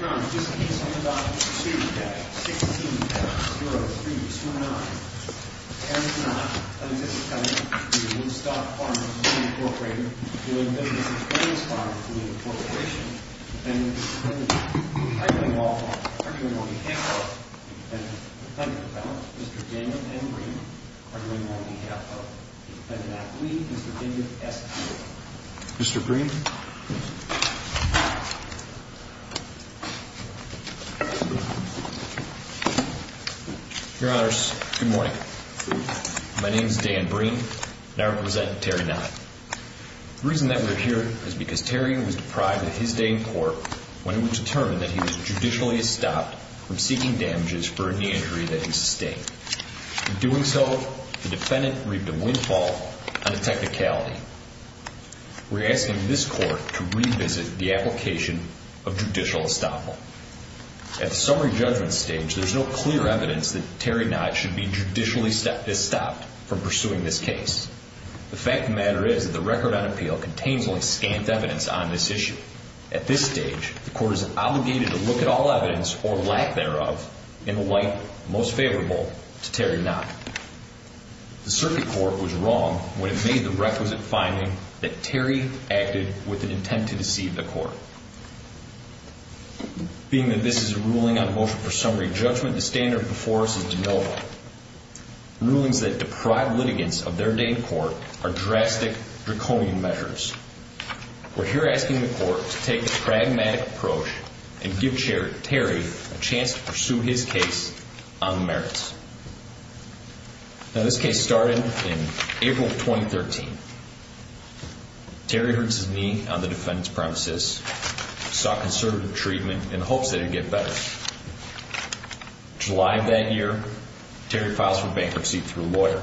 Ron, this case on the docket is pursued at 16-0329. Kenneth Knott v. Woodstock Farm & Fleet, Incorporated, dealing business with Williams Farm & Fleet, Incorporated. Defendant, Mr. Kennedy, I believe all are doing on behalf of the defendant. Defendant, Mr. Gammon, and Green are doing on behalf of the defendant. Mr. Green. Your Honors, good morning. My name is Dan Green, and I represent Terry Knott. The reason that we're here is because Terry was deprived of his day in court when it was determined that he was judicially stopped from seeking damages for a knee injury that he sustained. In doing so, the defendant reaped a windfall on the technicality. We're asking this court to revisit the application of judicial estoppel. At the summary judgment stage, there's no clear evidence that Terry Knott should be judicially stopped from pursuing this case. The fact of the matter is that the record on appeal contains only scant evidence on this issue. At this stage, the court is obligated to look at all evidence, or lack thereof, in the light most favorable to Terry Knott. The circuit court was wrong when it made the requisite finding that Terry acted with an intent to deceive the court. Being that this is a ruling on motion for summary judgment, the standard before us is de novo. Rulings that deprive litigants of their day in court are drastic, draconian measures. We're here asking the court to take a pragmatic approach and give Terry a chance to pursue his case on the merits. Now, this case started in April of 2013. Terry hurts his knee on the defendant's premises, sought conservative treatment in the hopes that he'd get better. In July of that year, Terry files for bankruptcy through a lawyer.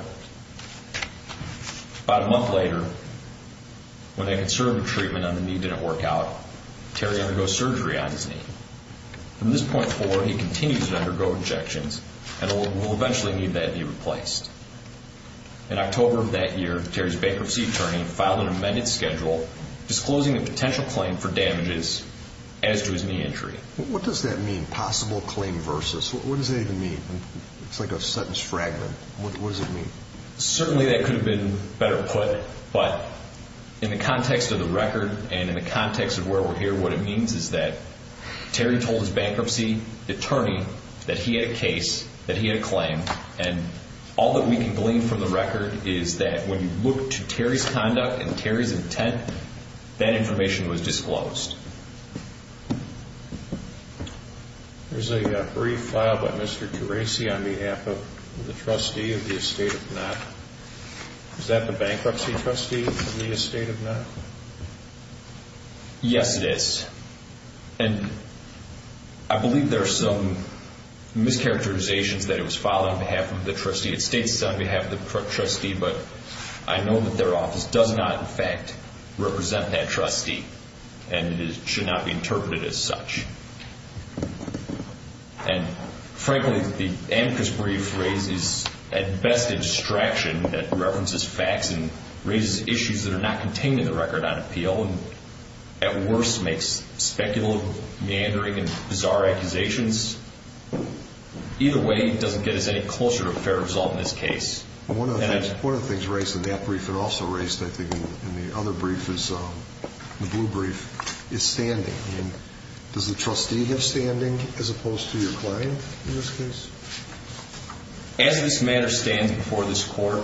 About a month later, when that conservative treatment on the knee didn't work out, Terry undergoes surgery on his knee. From this point forward, he continues to undergo injections and will eventually need that knee replaced. In October of that year, Terry's bankruptcy attorney filed an amended schedule disclosing a potential claim for damages as to his knee injury. What does that mean, possible claim versus? What does that even mean? It's like a sentence fragment. What does it mean? Certainly that could have been better put, but in the context of the record and in the context of where we're here, what it means is that Terry told his bankruptcy attorney that he had a case, that he had a claim, and all that we can glean from the record is that when you look to Terry's conduct and Terry's intent, that information was disclosed. There's a brief filed by Mr. Terasi on behalf of the trustee of the estate of Knott. Is that the bankruptcy trustee of the estate of Knott? Yes, it is. I believe there are some mischaracterizations that it was filed on behalf of the trustee. It states it's on behalf of the trustee, but I know that their office does not, in fact, represent that trustee and it should not be interpreted as such. And, frankly, the Amicus brief raises, at best, a distraction that references facts and raises issues that are not contained in the record on appeal and, at worst, makes speculative meandering and bizarre accusations. Either way, it doesn't get us any closer to a fair result in this case. One of the things raised in that brief and also raised, I think, in the other brief is the blue brief is standing. Does the trustee have standing as opposed to your client in this case? As this matter stands before this court,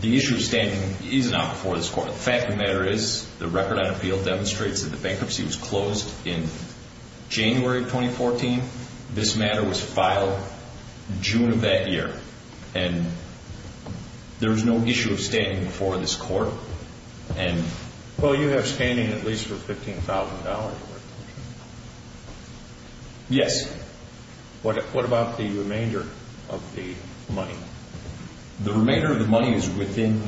the issue of standing is not before this court. The fact of the matter is the record on appeal demonstrates that the bankruptcy was closed in January of 2014. This matter was filed June of that year, and there was no issue of standing before this court. Well, you have standing at least for $15,000 worth. Yes. What about the remainder of the money? The remainder of the money is within,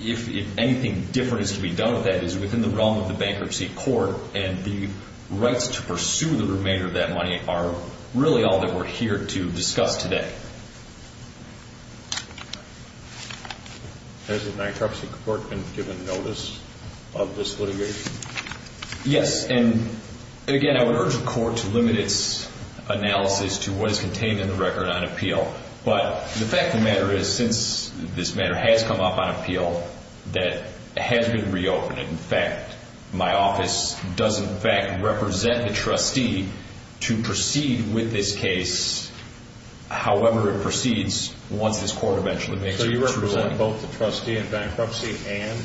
if anything different is to be done with that, is within the realm of the bankruptcy court, and the rights to pursue the remainder of that money are really all that we're here to discuss today. Has the bankruptcy court been given notice of this litigation? Yes, and again, I would urge the court to limit its analysis to what is contained in the record on appeal, but the fact of the matter is since this matter has come up on appeal, that has been reopened. In fact, my office does in fact represent the trustee to proceed with this case, however it proceeds once this court eventually makes its ruling. So you represent both the trustee in bankruptcy and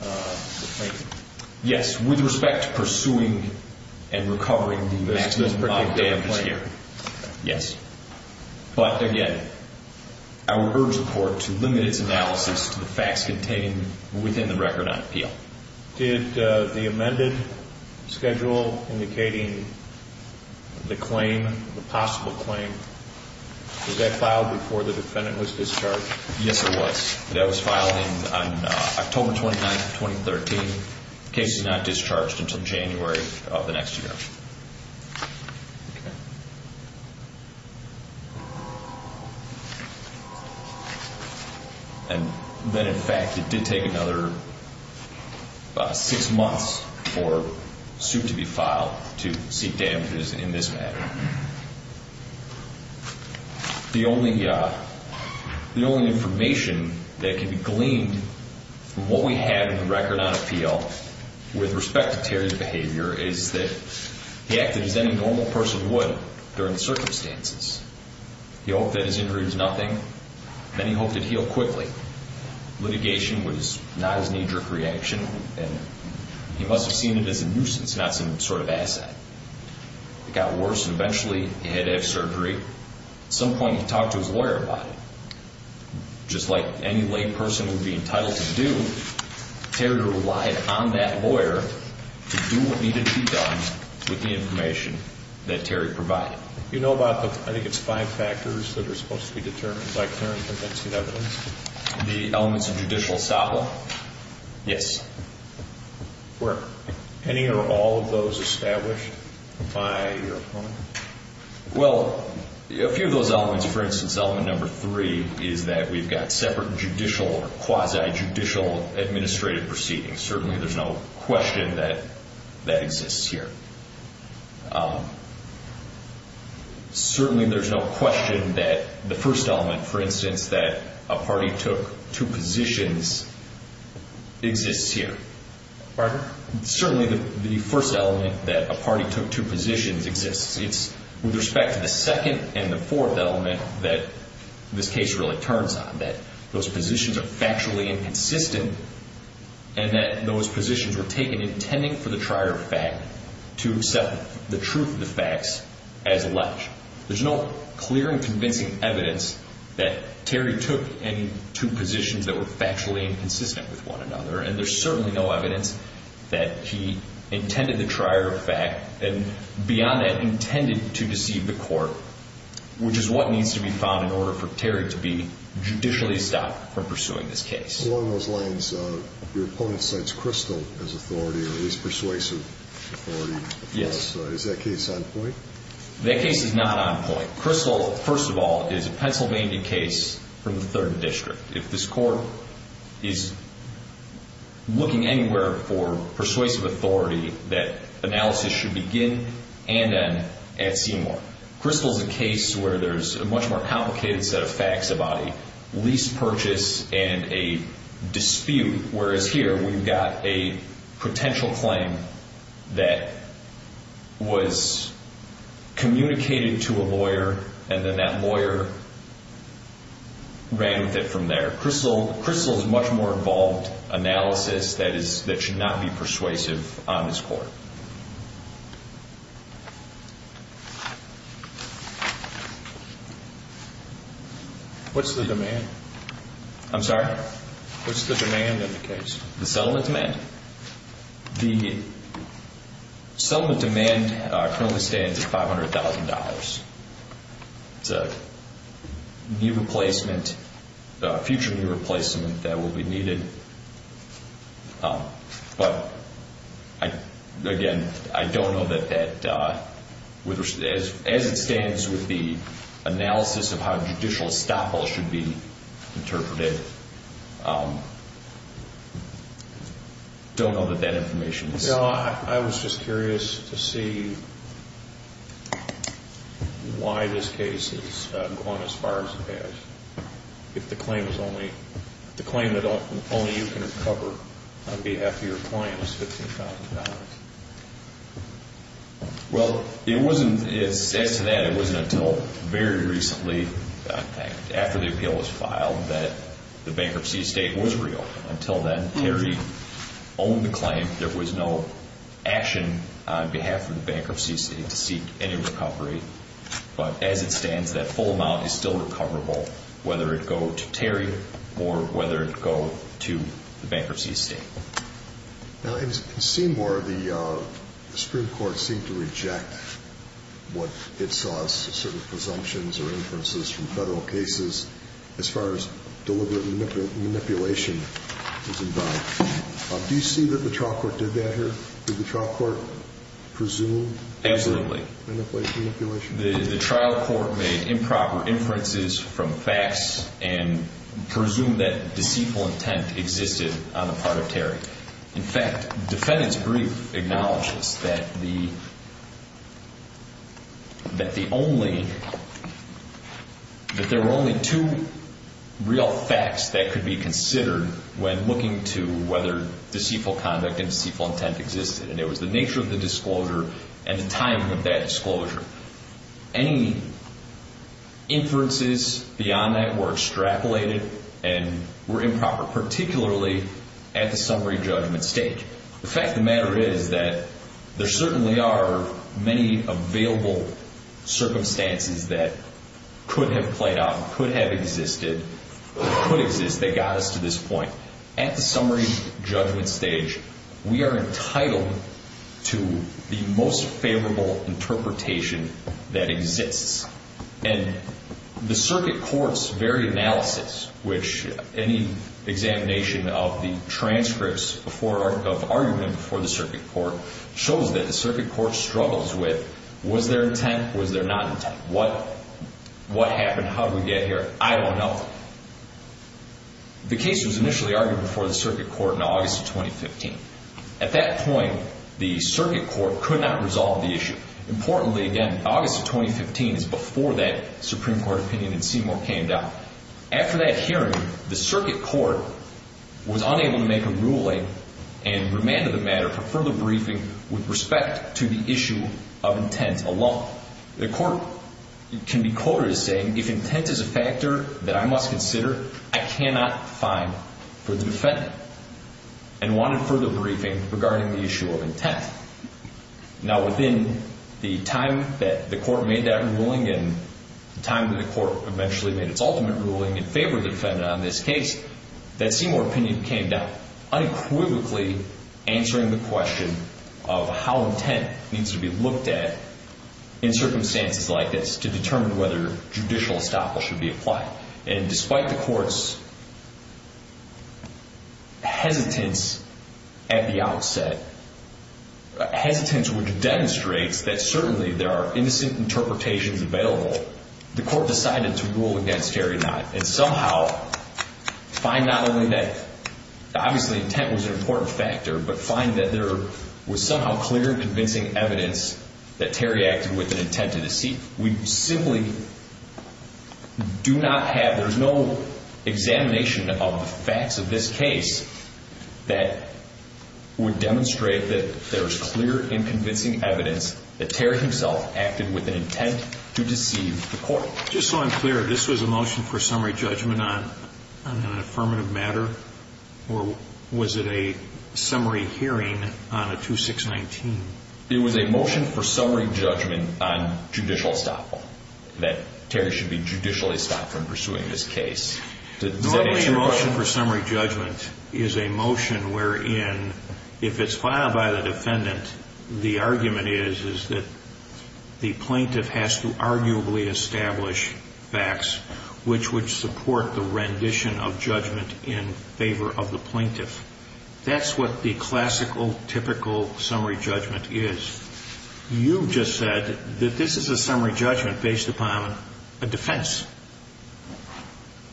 the plaintiff? Yes, with respect to pursuing and recovering the maximum amount of damages here. Yes. But again, I would urge the court to limit its analysis to the facts contained within the record on appeal. Did the amended schedule indicating the claim, the possible claim, was that filed before the defendant was discharged? Yes, it was. That was filed on October 29, 2013. The case is not discharged until January of the next year. Okay. And then in fact it did take another six months for suit to be filed to seek damages in this matter. The only information that can be gleaned from what we have in the record on appeal with respect to Terry's behavior is that he acted as any normal person would during the circumstances. He hoped that his injury was nothing, then he hoped it healed quickly. Litigation was not his knee-jerk reaction and he must have seen it as a nuisance, not some sort of asset. It got worse and eventually he had to have surgery. At some point he talked to his lawyer about it. Just like any lay person would be entitled to do, Terry relied on that lawyer to do what needed to be done with the information that Terry provided. Do you know about the, I think it's five factors, that are supposed to be determined by Terry in convincing evidence? The elements of judicial assable? Yes. Were any or all of those established by your opponent? Well, a few of those elements, for instance, element number three is that we've got separate judicial or quasi-judicial administrative proceedings. Certainly there's no question that that exists here. Certainly there's no question that the first element, for instance, that a party took two positions exists here. Pardon? Certainly the first element that a party took two positions exists. With respect to the second and the fourth element that this case really turns on, that those positions are factually inconsistent and that those positions were taken intending for the trier of fact to accept the truth of the facts as alleged. There's no clear and convincing evidence that Terry took any two positions that were factually inconsistent with one another, and there's certainly no evidence that he intended the trier of fact. And beyond that, intended to deceive the court, which is what needs to be found in order for Terry to be judicially stopped from pursuing this case. Along those lines, your opponent cites Crystal as authority, or at least persuasive authority. Yes. Is that case on point? That case is not on point. Crystal, first of all, is a Pennsylvania case from the 3rd District. If this court is looking anywhere for persuasive authority, that analysis should begin and end at Seymour. Crystal is a case where there's a much more complicated set of facts about a lease purchase and a dispute, whereas here we've got a potential claim that was communicated to a lawyer and then that lawyer ran with it from there. Crystal is a much more involved analysis that should not be persuasive on this court. What's the demand? I'm sorry? What's the demand in the case? The settlement demand. The settlement demand currently stands at $500,000. It's a new replacement, a future new replacement that will be needed. But, again, I don't know that that, as it stands with the analysis of how judicial estoppel should be interpreted, don't know that that information is. I was just curious to see why this case is going as far as it has, if the claim that only you can recover on behalf of your client is $15,000. Well, as to that, it wasn't until very recently, after the appeal was filed, that the bankruptcy estate was real. Until then, Terry owned the claim. There was no action on behalf of the bankruptcy estate to seek any recovery. But, as it stands, that full amount is still recoverable, whether it go to Terry or whether it go to the bankruptcy estate. Now, in Seymour, the Supreme Court seemed to reject what it saw as certain presumptions or inferences from federal cases as far as deliberate manipulation was involved. Do you see that the trial court did that here? Did the trial court presume? Absolutely. Manipulation? The trial court made improper inferences from facts and presumed that deceitful intent existed on the part of Terry. In fact, defendants' brief acknowledges that there were only two real facts that could be considered when looking to whether deceitful conduct and deceitful intent existed, and it was the nature of the disclosure and the timing of that disclosure. Any inferences beyond that were extrapolated and were improper, particularly at the summary judgment stage. The fact of the matter is that there certainly are many available circumstances that could have played out, could have existed, could exist, that got us to this point. At the summary judgment stage, we are entitled to the most favorable interpretation that exists. And the circuit court's very analysis, which any examination of the transcripts of argument before the circuit court, shows that the circuit court struggles with, was there intent, was there not intent? What happened? How did we get here? I don't know. The case was initially argued before the circuit court in August of 2015. At that point, the circuit court could not resolve the issue. Importantly, again, August of 2015 is before that Supreme Court opinion in Seymour came down. After that hearing, the circuit court was unable to make a ruling and remanded the matter for further briefing with respect to the issue of intent alone. Now, the court can be quoted as saying, if intent is a factor that I must consider, I cannot fine for the defendant, and wanted further briefing regarding the issue of intent. Now, within the time that the court made that ruling and the time that the court eventually made its ultimate ruling in favor of the defendant on this case, that Seymour opinion came down, unequivocally answering the question of how intent needs to be looked at in circumstances like this to determine whether judicial estoppel should be applied. And despite the court's hesitance at the outset, hesitance which demonstrates that certainly there are innocent interpretations available, the court decided to rule against Gary Knott and somehow find not only that obviously intent was an important factor, but find that there was somehow clear convincing evidence that Terry acted with an intent to deceive. We simply do not have, there's no examination of the facts of this case that would demonstrate that there's clear and convincing evidence Just so I'm clear, this was a motion for summary judgment on an affirmative matter? Or was it a summary hearing on a 2619? It was a motion for summary judgment on judicial estoppel that Terry should be judicially stopped from pursuing this case. Normally a motion for summary judgment is a motion wherein, if it's filed by the defendant, the argument is that the plaintiff has to arguably establish facts which would support the rendition of judgment in favor of the plaintiff. That's what the classical, typical summary judgment is. You just said that this is a summary judgment based upon a defense,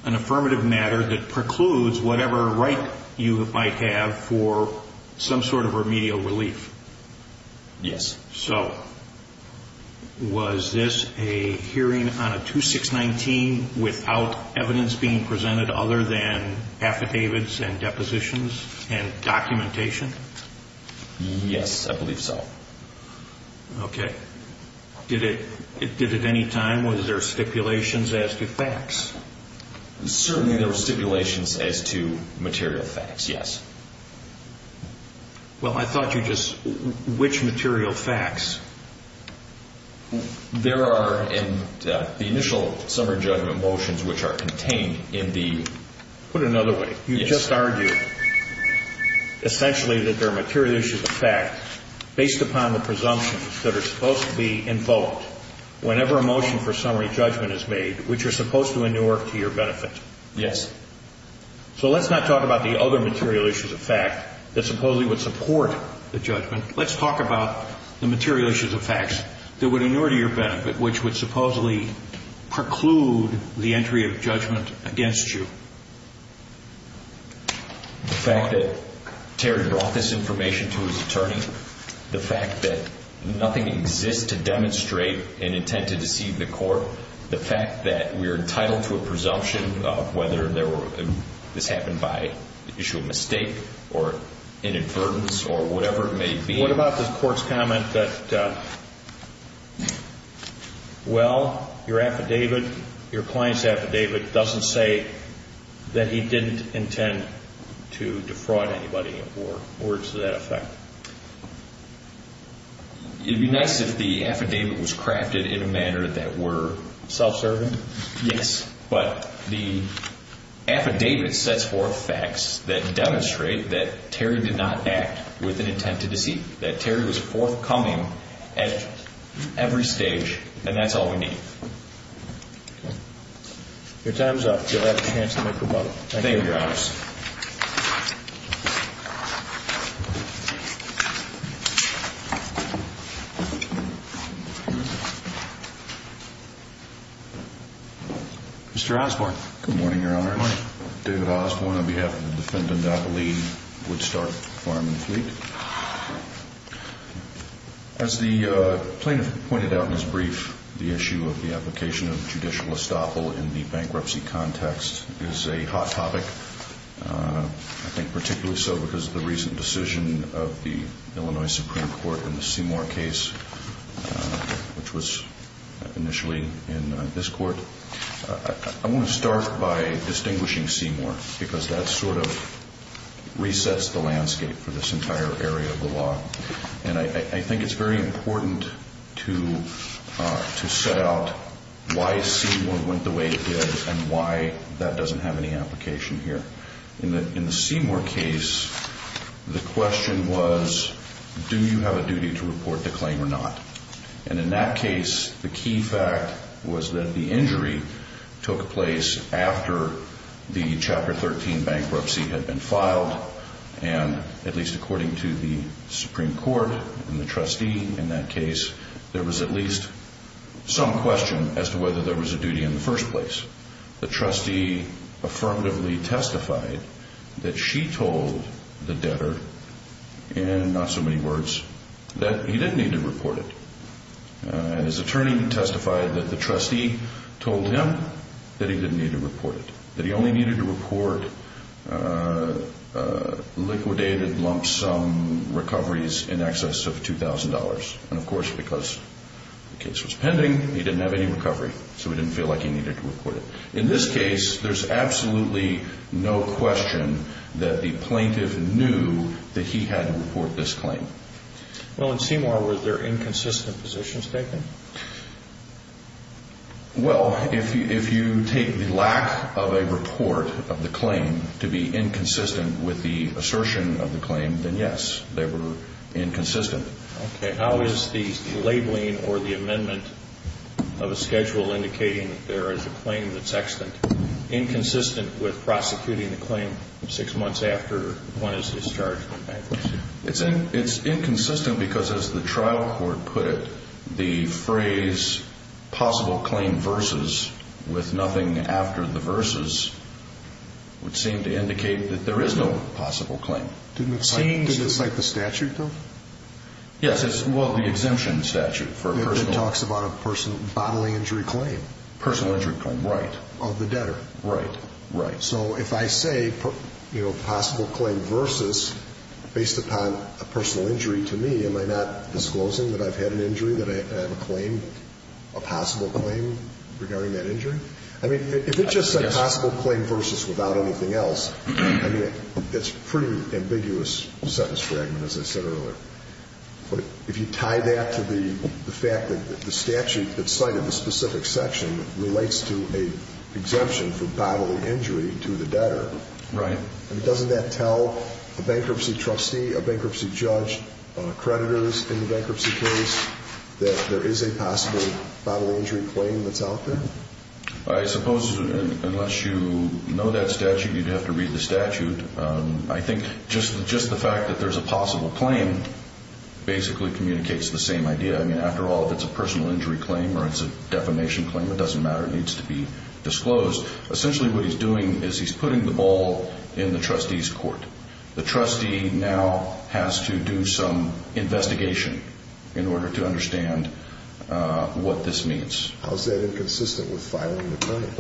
an affirmative matter that precludes whatever right you might have for some sort of remedial relief. Yes. So, was this a hearing on a 2619 without evidence being presented other than affidavits and depositions and documentation? Yes, I believe so. Okay. Did it at any time, was there stipulations as to facts? Certainly there were stipulations as to material facts, yes. Well, I thought you just, which material facts? There are in the initial summary judgment motions which are contained in the... Put it another way. Yes. You just argued essentially that there are material issues of fact based upon the presumptions that are supposed to be invoked whenever a motion for summary judgment is made which are supposed to inure to your benefit. Yes. So, let's not talk about the other material issues of fact that supposedly would support the judgment. Let's talk about the material issues of facts that would inure to your benefit which would supposedly preclude the entry of judgment against you. The fact that Terry brought this information to his attorney, the fact that nothing exists to demonstrate an intent to deceive the court, the fact that we are entitled to a presumption of whether this happened by issue of mistake or inadvertence or whatever it may be. What about the court's comment that, well, your affidavit, your client's affidavit, doesn't say that he didn't intend to defraud anybody or words to that effect? It would be nice if the affidavit was crafted in a manner that were self-serving. Yes. But the affidavit sets forth facts that demonstrate that Terry did not act with an intent to deceive, that Terry was forthcoming at every stage, and that's all we need. Your time's up. You'll have a chance to make your vote. Thank you. Thank you, Your Honor. Thank you. Mr. Osborne. Good morning, Your Honor. Good morning. David Osborne on behalf of the defendant, I believe, Woodstock Farm and Fleet. As the plaintiff pointed out in his brief, the issue of the application of judicial estoppel in the bankruptcy context is a hot topic. I think particularly so because of the recent decision of the Illinois Supreme Court in the Seymour case, which was initially in this court. I want to start by distinguishing Seymour because that sort of resets the landscape for this entire area of the law. And I think it's very important to set out why Seymour went the way it did and why that doesn't have any application here. In the Seymour case, the question was, do you have a duty to report the claim or not? And in that case, the key fact was that the injury took place after the Chapter 13 bankruptcy had been filed. And at least according to the Supreme Court and the trustee in that case, there was at least some question as to whether there was a duty in the first place. The trustee affirmatively testified that she told the debtor, in not so many words, that he didn't need to report it. His attorney testified that the trustee told him that he didn't need to report it, that he only needed to report liquidated lump sum recoveries in excess of $2,000. And of course, because the case was pending, he didn't have any recovery. So he didn't feel like he needed to report it. In this case, there's absolutely no question that the plaintiff knew that he had to report this claim. Well, in Seymour, were there inconsistent positions taken? Well, if you take the lack of a report of the claim to be inconsistent with the assertion of the claim, then yes, they were inconsistent. Okay. How is the labeling or the amendment of a schedule indicating that there is a claim that's extant, inconsistent with prosecuting the claim six months after one is discharged from bankruptcy? It's inconsistent because, as the trial court put it, the phrase possible claim versus with nothing after the versus would seem to indicate that there is no possible claim. Didn't it cite the statute, though? Yes. Well, the exemption statute. It talks about a bodily injury claim. Personal injury claim. Right. Of the debtor. Right. Right. So if I say, you know, possible claim versus based upon a personal injury to me, am I not disclosing that I've had an injury, that I have a claim, a possible claim regarding that injury? I mean, if it just said possible claim versus without anything else, that's pretty ambiguous sentence fragment, as I said earlier. But if you tie that to the fact that the statute that cited the specific section relates to a exemption for bodily injury to the debtor. Right. And doesn't that tell a bankruptcy trustee, a bankruptcy judge, creditors in the bankruptcy case, that there is a possible bodily injury claim that's out there? I suppose unless you know that statute, you'd have to read the statute. I think just the fact that there's a possible claim basically communicates the same idea. I mean, after all, if it's a personal injury claim or it's a defamation claim, it doesn't matter. It needs to be disclosed. Essentially what he's doing is he's putting the ball in the trustee's court. The trustee now has to do some investigation in order to understand what this means. How is that inconsistent with filing the claim?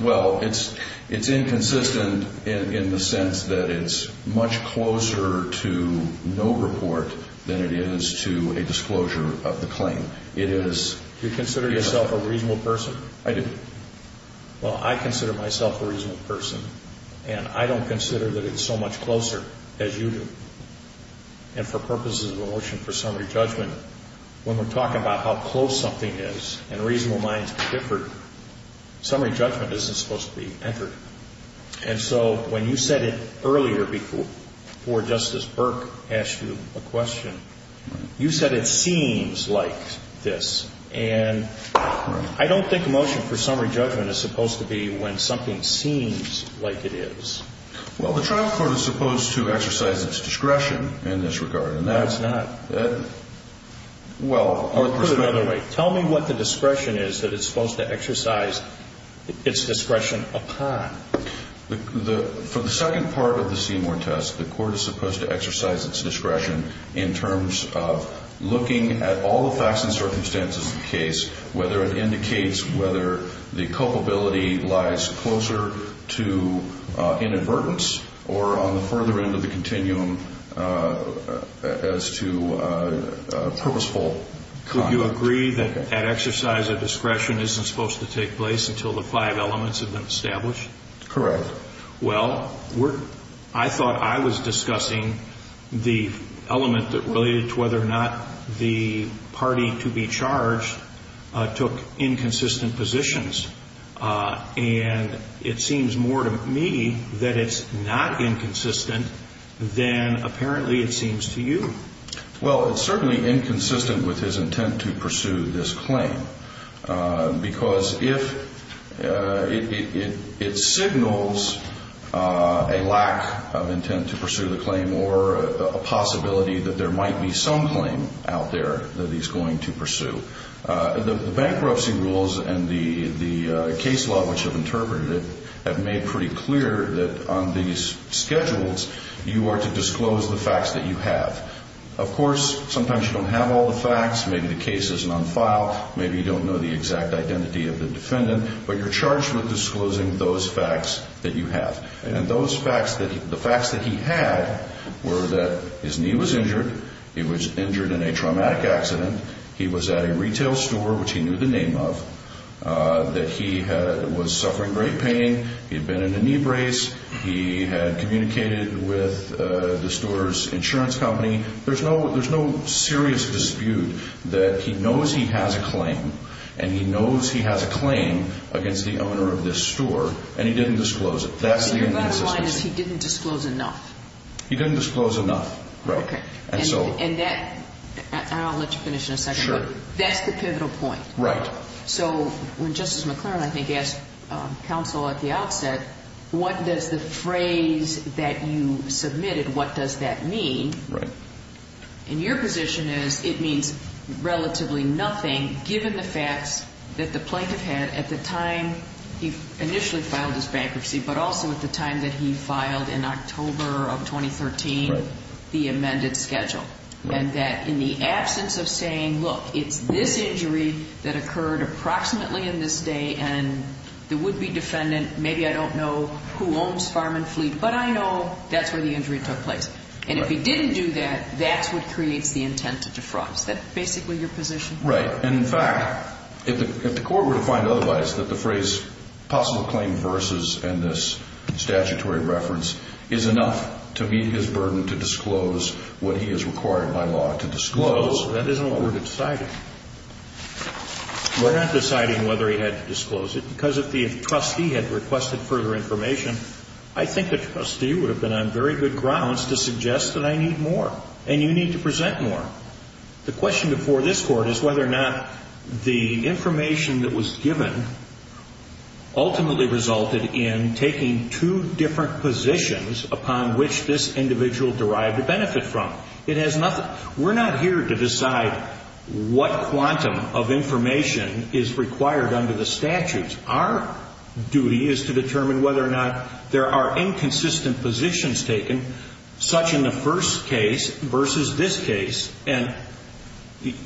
Well, it's inconsistent in the sense that it's much closer to no report than it is to a disclosure of the claim. You consider yourself a reasonable person? I do. Well, I consider myself a reasonable person, and I don't consider that it's so much closer as you do. And for purposes of the motion for summary judgment, when we're talking about how close something is and reasonable minds differ, summary judgment isn't supposed to be entered. And so when you said it earlier before Justice Burke asked you a question, you said it seems like this. And I don't think a motion for summary judgment is supposed to be when something seems like it is. Well, the trial court is supposed to exercise its discretion in this regard. No, it's not. Put it another way. Tell me what the discretion is that it's supposed to exercise its discretion upon. For the second part of the Seymour test, the court is supposed to exercise its discretion in terms of looking at all the facts and circumstances of the case, whether it indicates whether the culpability lies closer to inadvertence or on the further end of the continuum as to purposeful conduct. Could you agree that that exercise of discretion isn't supposed to take place until the five elements have been established? Correct. Well, I thought I was discussing the element that related to whether or not the party to be charged took inconsistent positions. And it seems more to me that it's not inconsistent than apparently it seems to you. Well, it's certainly inconsistent with his intent to pursue this claim because it signals a lack of intent to pursue the claim or a possibility that there might be some claim out there that he's going to pursue. The bankruptcy rules and the case law, which have interpreted it, have made pretty clear that on these schedules you are to disclose the facts that you have. Of course, sometimes you don't have all the facts. Maybe the case isn't on file. Maybe you don't know the exact identity of the defendant. But you're charged with disclosing those facts that you have. And the facts that he had were that his knee was injured. He was injured in a traumatic accident. He was at a retail store, which he knew the name of, that he was suffering great pain. He had been in a knee brace. He had communicated with the store's insurance company. There's no serious dispute that he knows he has a claim and he knows he has a claim against the owner of this store, and he didn't disclose it. That's the inconsistency. So your bottom line is he didn't disclose enough. He didn't disclose enough, right. Okay. And that, and I'll let you finish in a second. Sure. That's the pivotal point. Right. So when Justice McClaren, I think, asked counsel at the outset, what does the phrase that you submitted, what does that mean? Right. And your position is it means relatively nothing, given the facts that the plaintiff had at the time he initially filed his bankruptcy, but also at the time that he filed in October of 2013 the amended schedule. And that in the absence of saying, look, it's this injury that occurred approximately in this day, and the would-be defendant, maybe I don't know who owns Farm and Fleet, but I know that's where the injury took place. And if he didn't do that, that's what creates the intent to defraud. Is that basically your position? Right. And, in fact, if the court were to find otherwise, that the phrase possible claim versus and this statutory reference is enough to meet his burden to disclose what he has required by law to disclose. Well, that isn't what we're deciding. We're not deciding whether he had to disclose it, because if the trustee had requested further information, I think the trustee would have been on very good grounds to suggest that I need more, and you need to present more. The question before this court is whether or not the information that was given ultimately resulted in taking two different positions upon which this individual derived a benefit from. We're not here to decide what quantum of information is required under the statutes. Our duty is to determine whether or not there are inconsistent positions taken, such in the first case versus this case, and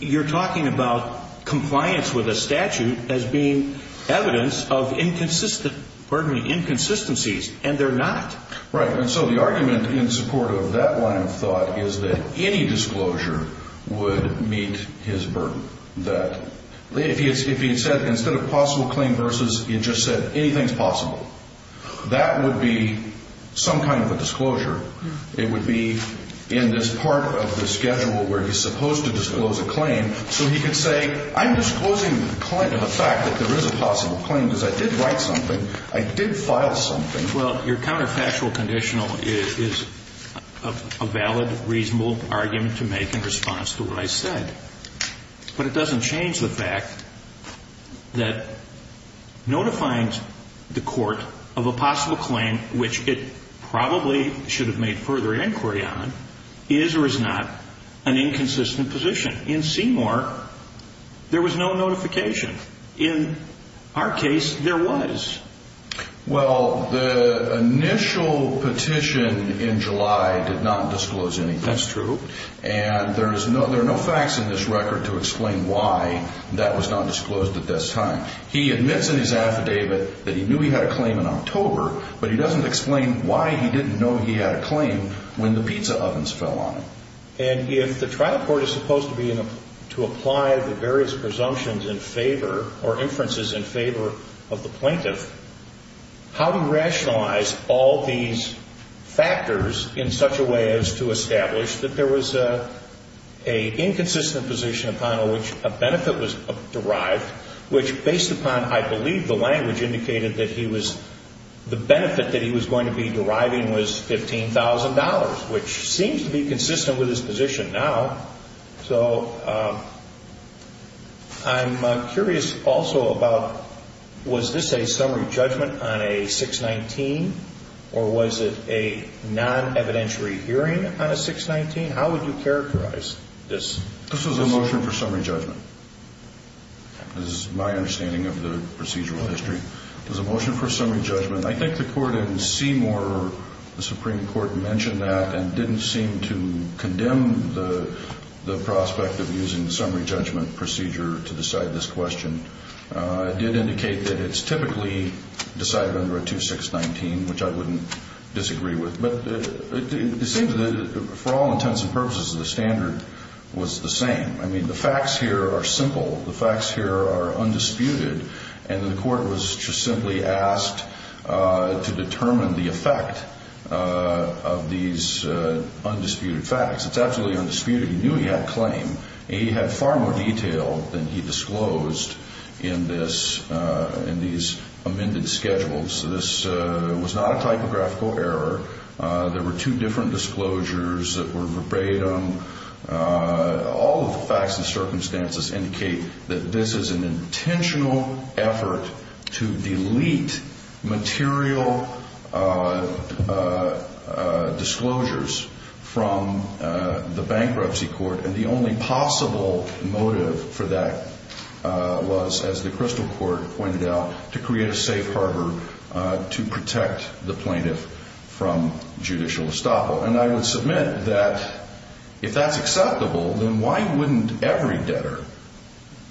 you're talking about compliance with a statute as being evidence of inconsistencies, and they're not. Right. And so the argument in support of that line of thought is that any disclosure would meet his burden. That if he had said instead of possible claim versus, he had just said anything's possible, that would be some kind of a disclosure. It would be in this part of the schedule where he's supposed to disclose a claim, so he could say I'm disclosing the fact that there is a possible claim because I did write something, I did file something. Well, your counterfactual conditional is a valid, reasonable argument to make in response to what I said, but it doesn't change the fact that notifying the court of a possible claim, which it probably should have made further inquiry on, is or is not an inconsistent position. In Seymour, there was no notification. In our case, there was. Well, the initial petition in July did not disclose anything. That's true. And there are no facts in this record to explain why that was not disclosed at this time. He admits in his affidavit that he knew he had a claim in October, but he doesn't explain why he didn't know he had a claim when the pizza ovens fell on him. And if the trial court is supposed to apply the various presumptions in favor or inferences in favor of the plaintiff, how do you rationalize all these factors in such a way as to establish that there was an inconsistent position upon which a benefit was derived, which based upon, I believe, the language indicated that he was, the benefit that he was going to be deriving was $15,000, which seems to be consistent with his position now. So I'm curious also about was this a summary judgment on a 619, or was it a non-evidentiary hearing on a 619? How would you characterize this? This was a motion for summary judgment. This is my understanding of the procedural history. It was a motion for summary judgment. I think the court in Seymour, the Supreme Court, mentioned that and didn't seem to condemn the prospect of using the summary judgment procedure to decide this question. It did indicate that it's typically decided under a 2619, which I wouldn't disagree with. But it seems that for all intents and purposes the standard was the same. I mean, the facts here are simple. The facts here are undisputed. And the court was just simply asked to determine the effect of these undisputed facts. It's absolutely undisputed. He knew he had claim. He had far more detail than he disclosed in this, in these amended schedules. So this was not a typographical error. There were two different disclosures that were verbatim. All of the facts and circumstances indicate that this is an intentional effort to delete material disclosures from the bankruptcy court. And the only possible motive for that was, as the Crystal Court pointed out, to create a safe harbor to protect the plaintiff from judicial estoppel. And I would submit that if that's acceptable, then why wouldn't every debtor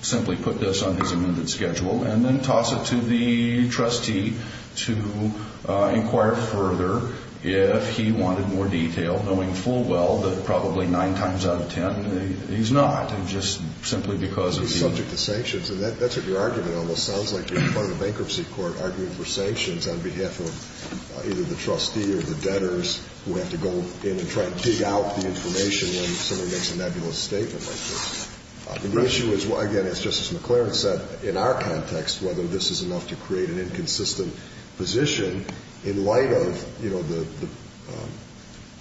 simply put this on his amended schedule and then toss it to the trustee to inquire further if he wanted more detail, knowing full well that probably nine times out of ten he's not, and just simply because of the... He's subject to sanctions. And that's what your argument almost sounds like. You're in front of the bankruptcy court arguing for sanctions on behalf of either the trustee or the debtors who have to go in and try to dig out the information when somebody makes a nebulous statement like this. And the issue is, again, as Justice McClaren said, in our context whether this is enough to create an inconsistent position in light of, you know, the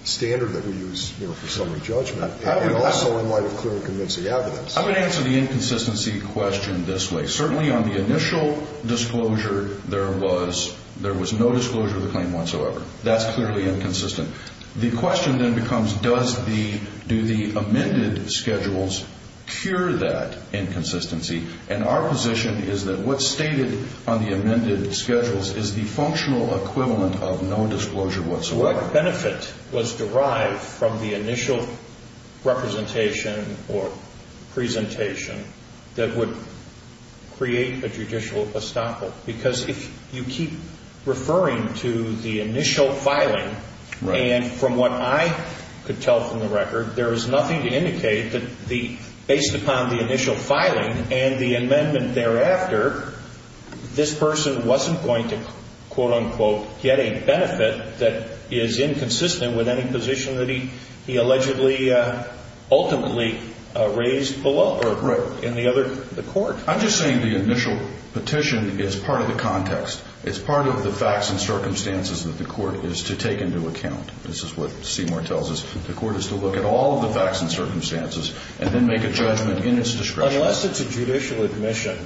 standard that we use, you know, for summary judgment, and also in light of clear and convincing evidence. I'm going to answer the inconsistency question this way. Certainly on the initial disclosure, there was no disclosure of the claim whatsoever. That's clearly inconsistent. The question then becomes does the amended schedules cure that inconsistency? And our position is that what's stated on the amended schedules is the functional equivalent of no disclosure whatsoever. What benefit was derived from the initial representation or presentation that would create a judicial estoppel? Because if you keep referring to the initial filing, and from what I could tell from the record, there is nothing to indicate that based upon the initial filing and the amendment thereafter, this person wasn't going to, quote, unquote, get a benefit that is inconsistent with any position that he allegedly ultimately raised below or in the court. I'm just saying the initial petition is part of the context. It's part of the facts and circumstances that the court is to take into account. This is what Seymour tells us. The court is to look at all of the facts and circumstances and then make a judgment in its discretion. Unless it's a judicial admission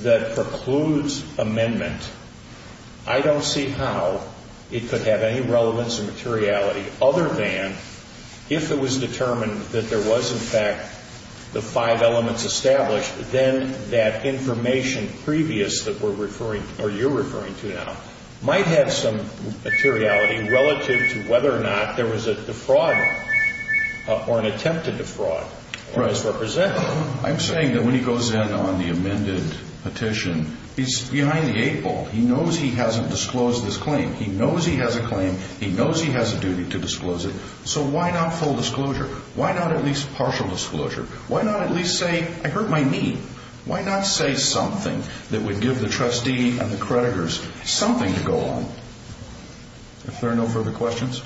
that precludes amendment, I don't see how it could have any relevance or materiality other than if it was determined that there was, in fact, the five elements established, then that information previous that we're referring or you're referring to now might have some materiality relative to whether or not there was a defraud or an attempt to defraud or misrepresent. I'm saying that when he goes in on the amended petition, he's behind the eight ball. He knows he hasn't disclosed his claim. He knows he has a claim. He knows he has a duty to disclose it. So why not full disclosure? Why not at least partial disclosure? Why not at least say, I hurt my knee? Why not say something that would give the trustee and the creditors something to go on? If there are no further questions.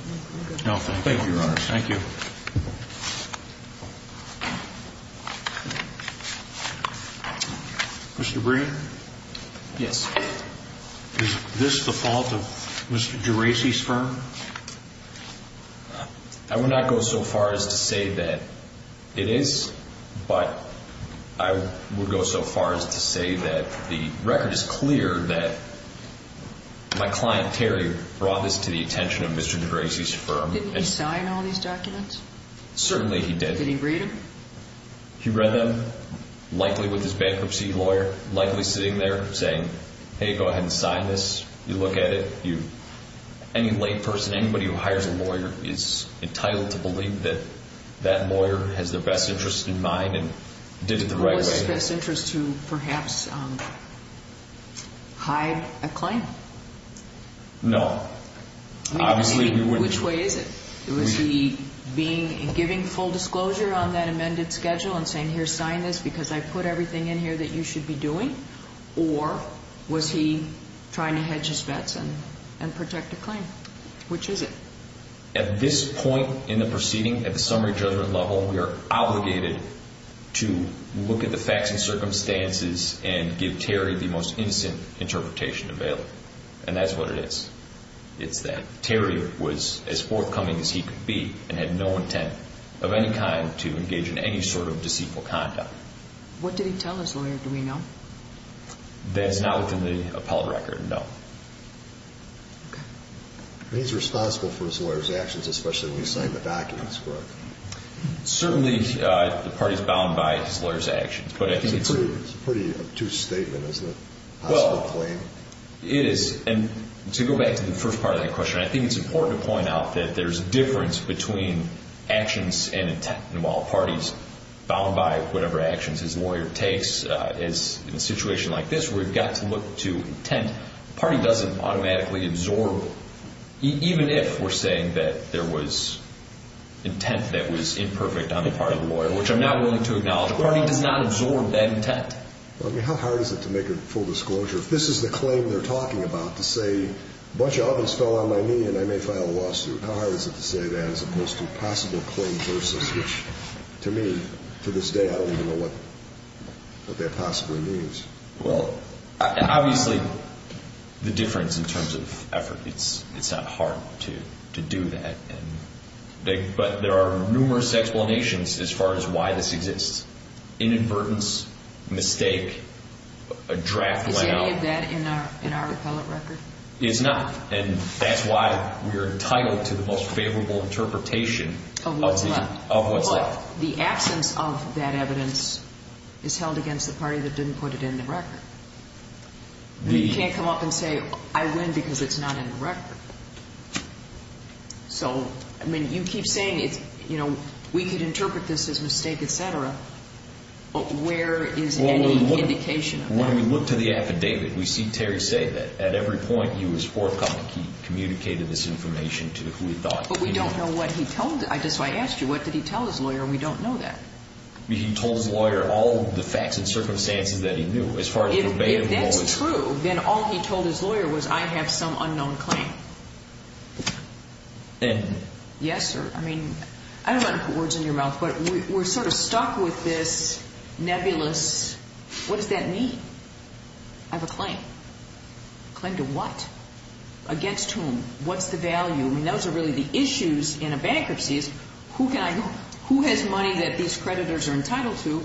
No, thank you. Thank you, Your Honors. Thank you. Mr. Breen? Yes. Is this the fault of Mr. Geraci's firm? I would not go so far as to say that it is, but I would go so far as to say that the record is clear that my client, Terry, brought this to the attention of Mr. Geraci's firm. Didn't he sign all these documents? Certainly he did. Did he read them? He read them, likely with his bankruptcy lawyer, likely sitting there saying, hey, go ahead and sign this. You look at it. Any layperson, anybody who hires a lawyer is entitled to believe that that lawyer has their best interest in mind and did it the right way. Was his best interest to perhaps hide a claim? No. Which way is it? Was he giving full disclosure on that amended schedule and saying, here, sign this because I put everything in here that you should be doing? Or was he trying to hedge his bets and protect a claim? Which is it? At this point in the proceeding, at the summary judgment level, we are obligated to look at the facts and circumstances and give Terry the most innocent interpretation available, and that's what it is. It's that Terry was as forthcoming as he could be and had no intent of any kind to engage in any sort of deceitful conduct. What did he tell his lawyer, do we know? That's not within the appellate record, no. Okay. He's responsible for his lawyer's actions, especially when he signed the documents, correct? Certainly, the party's bound by his lawyer's actions. It's a pretty obtuse statement, isn't it, a possible claim? Well, it is. And to go back to the first part of that question, I think it's important to point out that there's a difference between actions and intent. And while a party's bound by whatever actions his lawyer takes, in a situation like this where we've got to look to intent, the party doesn't automatically absorb, even if we're saying that there was intent that was imperfect on the part of the lawyer, which I'm not willing to acknowledge, the party does not absorb that intent. How hard is it to make a full disclosure? If this is the claim they're talking about, to say a bunch of ovens fell on my knee and I may file a lawsuit, how hard is it to say that as opposed to a possible claim versus which, to me, to this day, I don't even know what that possibly means? Well, obviously, the difference in terms of effort, it's not hard to do that. But there are numerous explanations as far as why this exists. Inadvertence, mistake, a draft went out. Is any of that in our appellate record? It's not, and that's why we're entitled to the most favorable interpretation of what's left. But the absence of that evidence is held against the party that didn't put it in the record. We can't come up and say, I win because it's not in the record. So, I mean, you keep saying, you know, we could interpret this as mistake, et cetera, but where is any indication of that? When we look to the affidavit, we see Terry say that. At every point, he was forthcoming. He communicated this information to who he thought. But we don't know what he told us. That's why I asked you, what did he tell his lawyer, and we don't know that. He told his lawyer all the facts and circumstances that he knew. If that's true, then all he told his lawyer was, I have some unknown claim. And? Yes, sir. I mean, I don't want to put words in your mouth, but we're sort of stuck with this nebulous, what does that mean? I have a claim. Claim to what? Against whom? What's the value? I mean, those are really the issues in a bankruptcy is, who has money that these creditors are entitled to,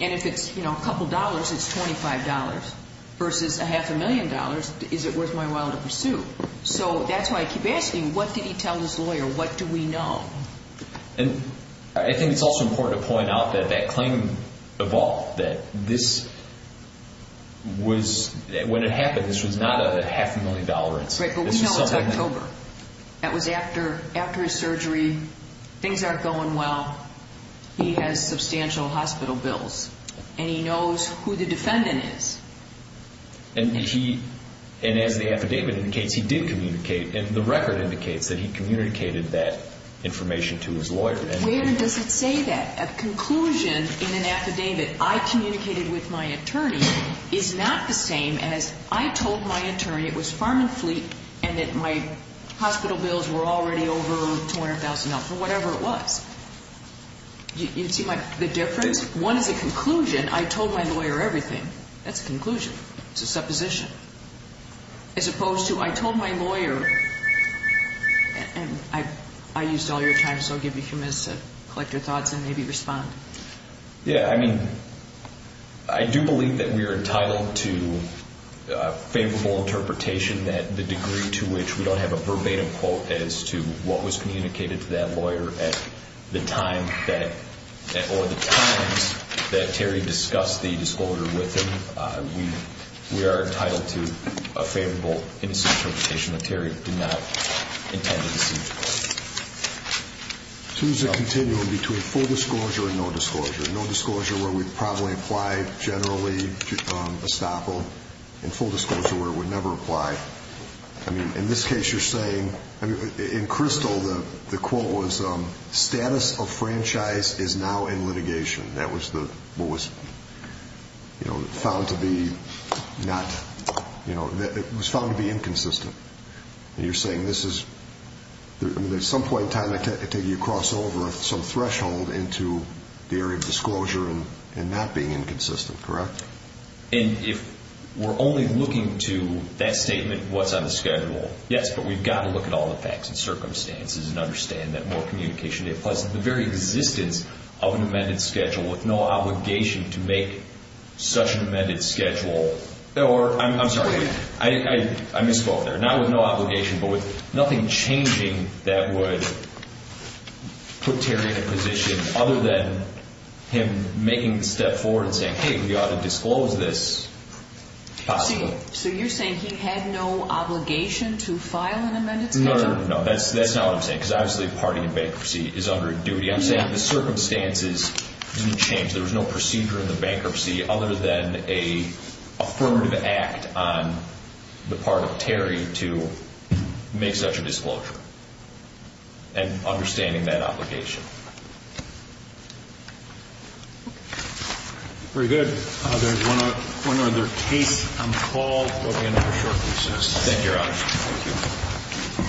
and if it's, you know, a couple dollars, it's $25 versus a half a million dollars, is it worth my while to pursue? So that's why I keep asking, what did he tell his lawyer? What do we know? And I think it's also important to point out that that claim evolved, that this was – when it happened, this was not a half a million dollar incident. Right, but we know it was October. That was after his surgery. Things aren't going well. He has substantial hospital bills. And he knows who the defendant is. And as the affidavit indicates, he did communicate, and the record indicates that he communicated that information to his lawyer. Where does it say that? A conclusion in an affidavit, I communicated with my attorney, is not the same as I told my attorney it was Farm and Fleet and that my hospital bills were already over $200,000 or whatever it was. You see the difference? One is a conclusion. I told my lawyer everything. That's a conclusion. It's a supposition. As opposed to, I told my lawyer, and I used all your time, so I'll give you a few minutes to collect your thoughts and maybe respond. Yeah, I mean, I do believe that we are entitled to a favorable interpretation that the degree to which we don't have a verbatim quote as to what was communicated to that lawyer or the times that Terry discussed the disclosure with him, we are entitled to a favorable interpretation that Terry did not intend to see. Two is a continuum between full disclosure and no disclosure. No disclosure where we'd probably apply generally estoppel, and full disclosure where it would never apply. I mean, in this case you're saying, in Crystal the quote was, status of franchise is now in litigation. That was what was found to be not, you know, it was found to be inconsistent. And you're saying this is, at some point in time I take you across over some threshold into the area of disclosure and not being inconsistent, correct? And if we're only looking to that statement, what's on the schedule, yes, but we've got to look at all the facts and circumstances and understand that more communication, plus the very existence of an amended schedule with no obligation to make such an amended schedule. Or, I'm sorry, I misspoke there. Not with no obligation, but with nothing changing that would put Terry in a position other than him making the step forward and saying, hey, we ought to disclose this possibly. So you're saying he had no obligation to file an amended schedule? No, no, no, that's not what I'm saying. Because obviously a party in bankruptcy is under a duty. I'm saying the circumstances didn't change. There was no procedure in the bankruptcy other than an affirmative act on the part of Terry to make such a disclosure and understanding that obligation. Very good. There's one other case on the call. We'll be in for a short recess. Thank you, Your Honor. Thank you.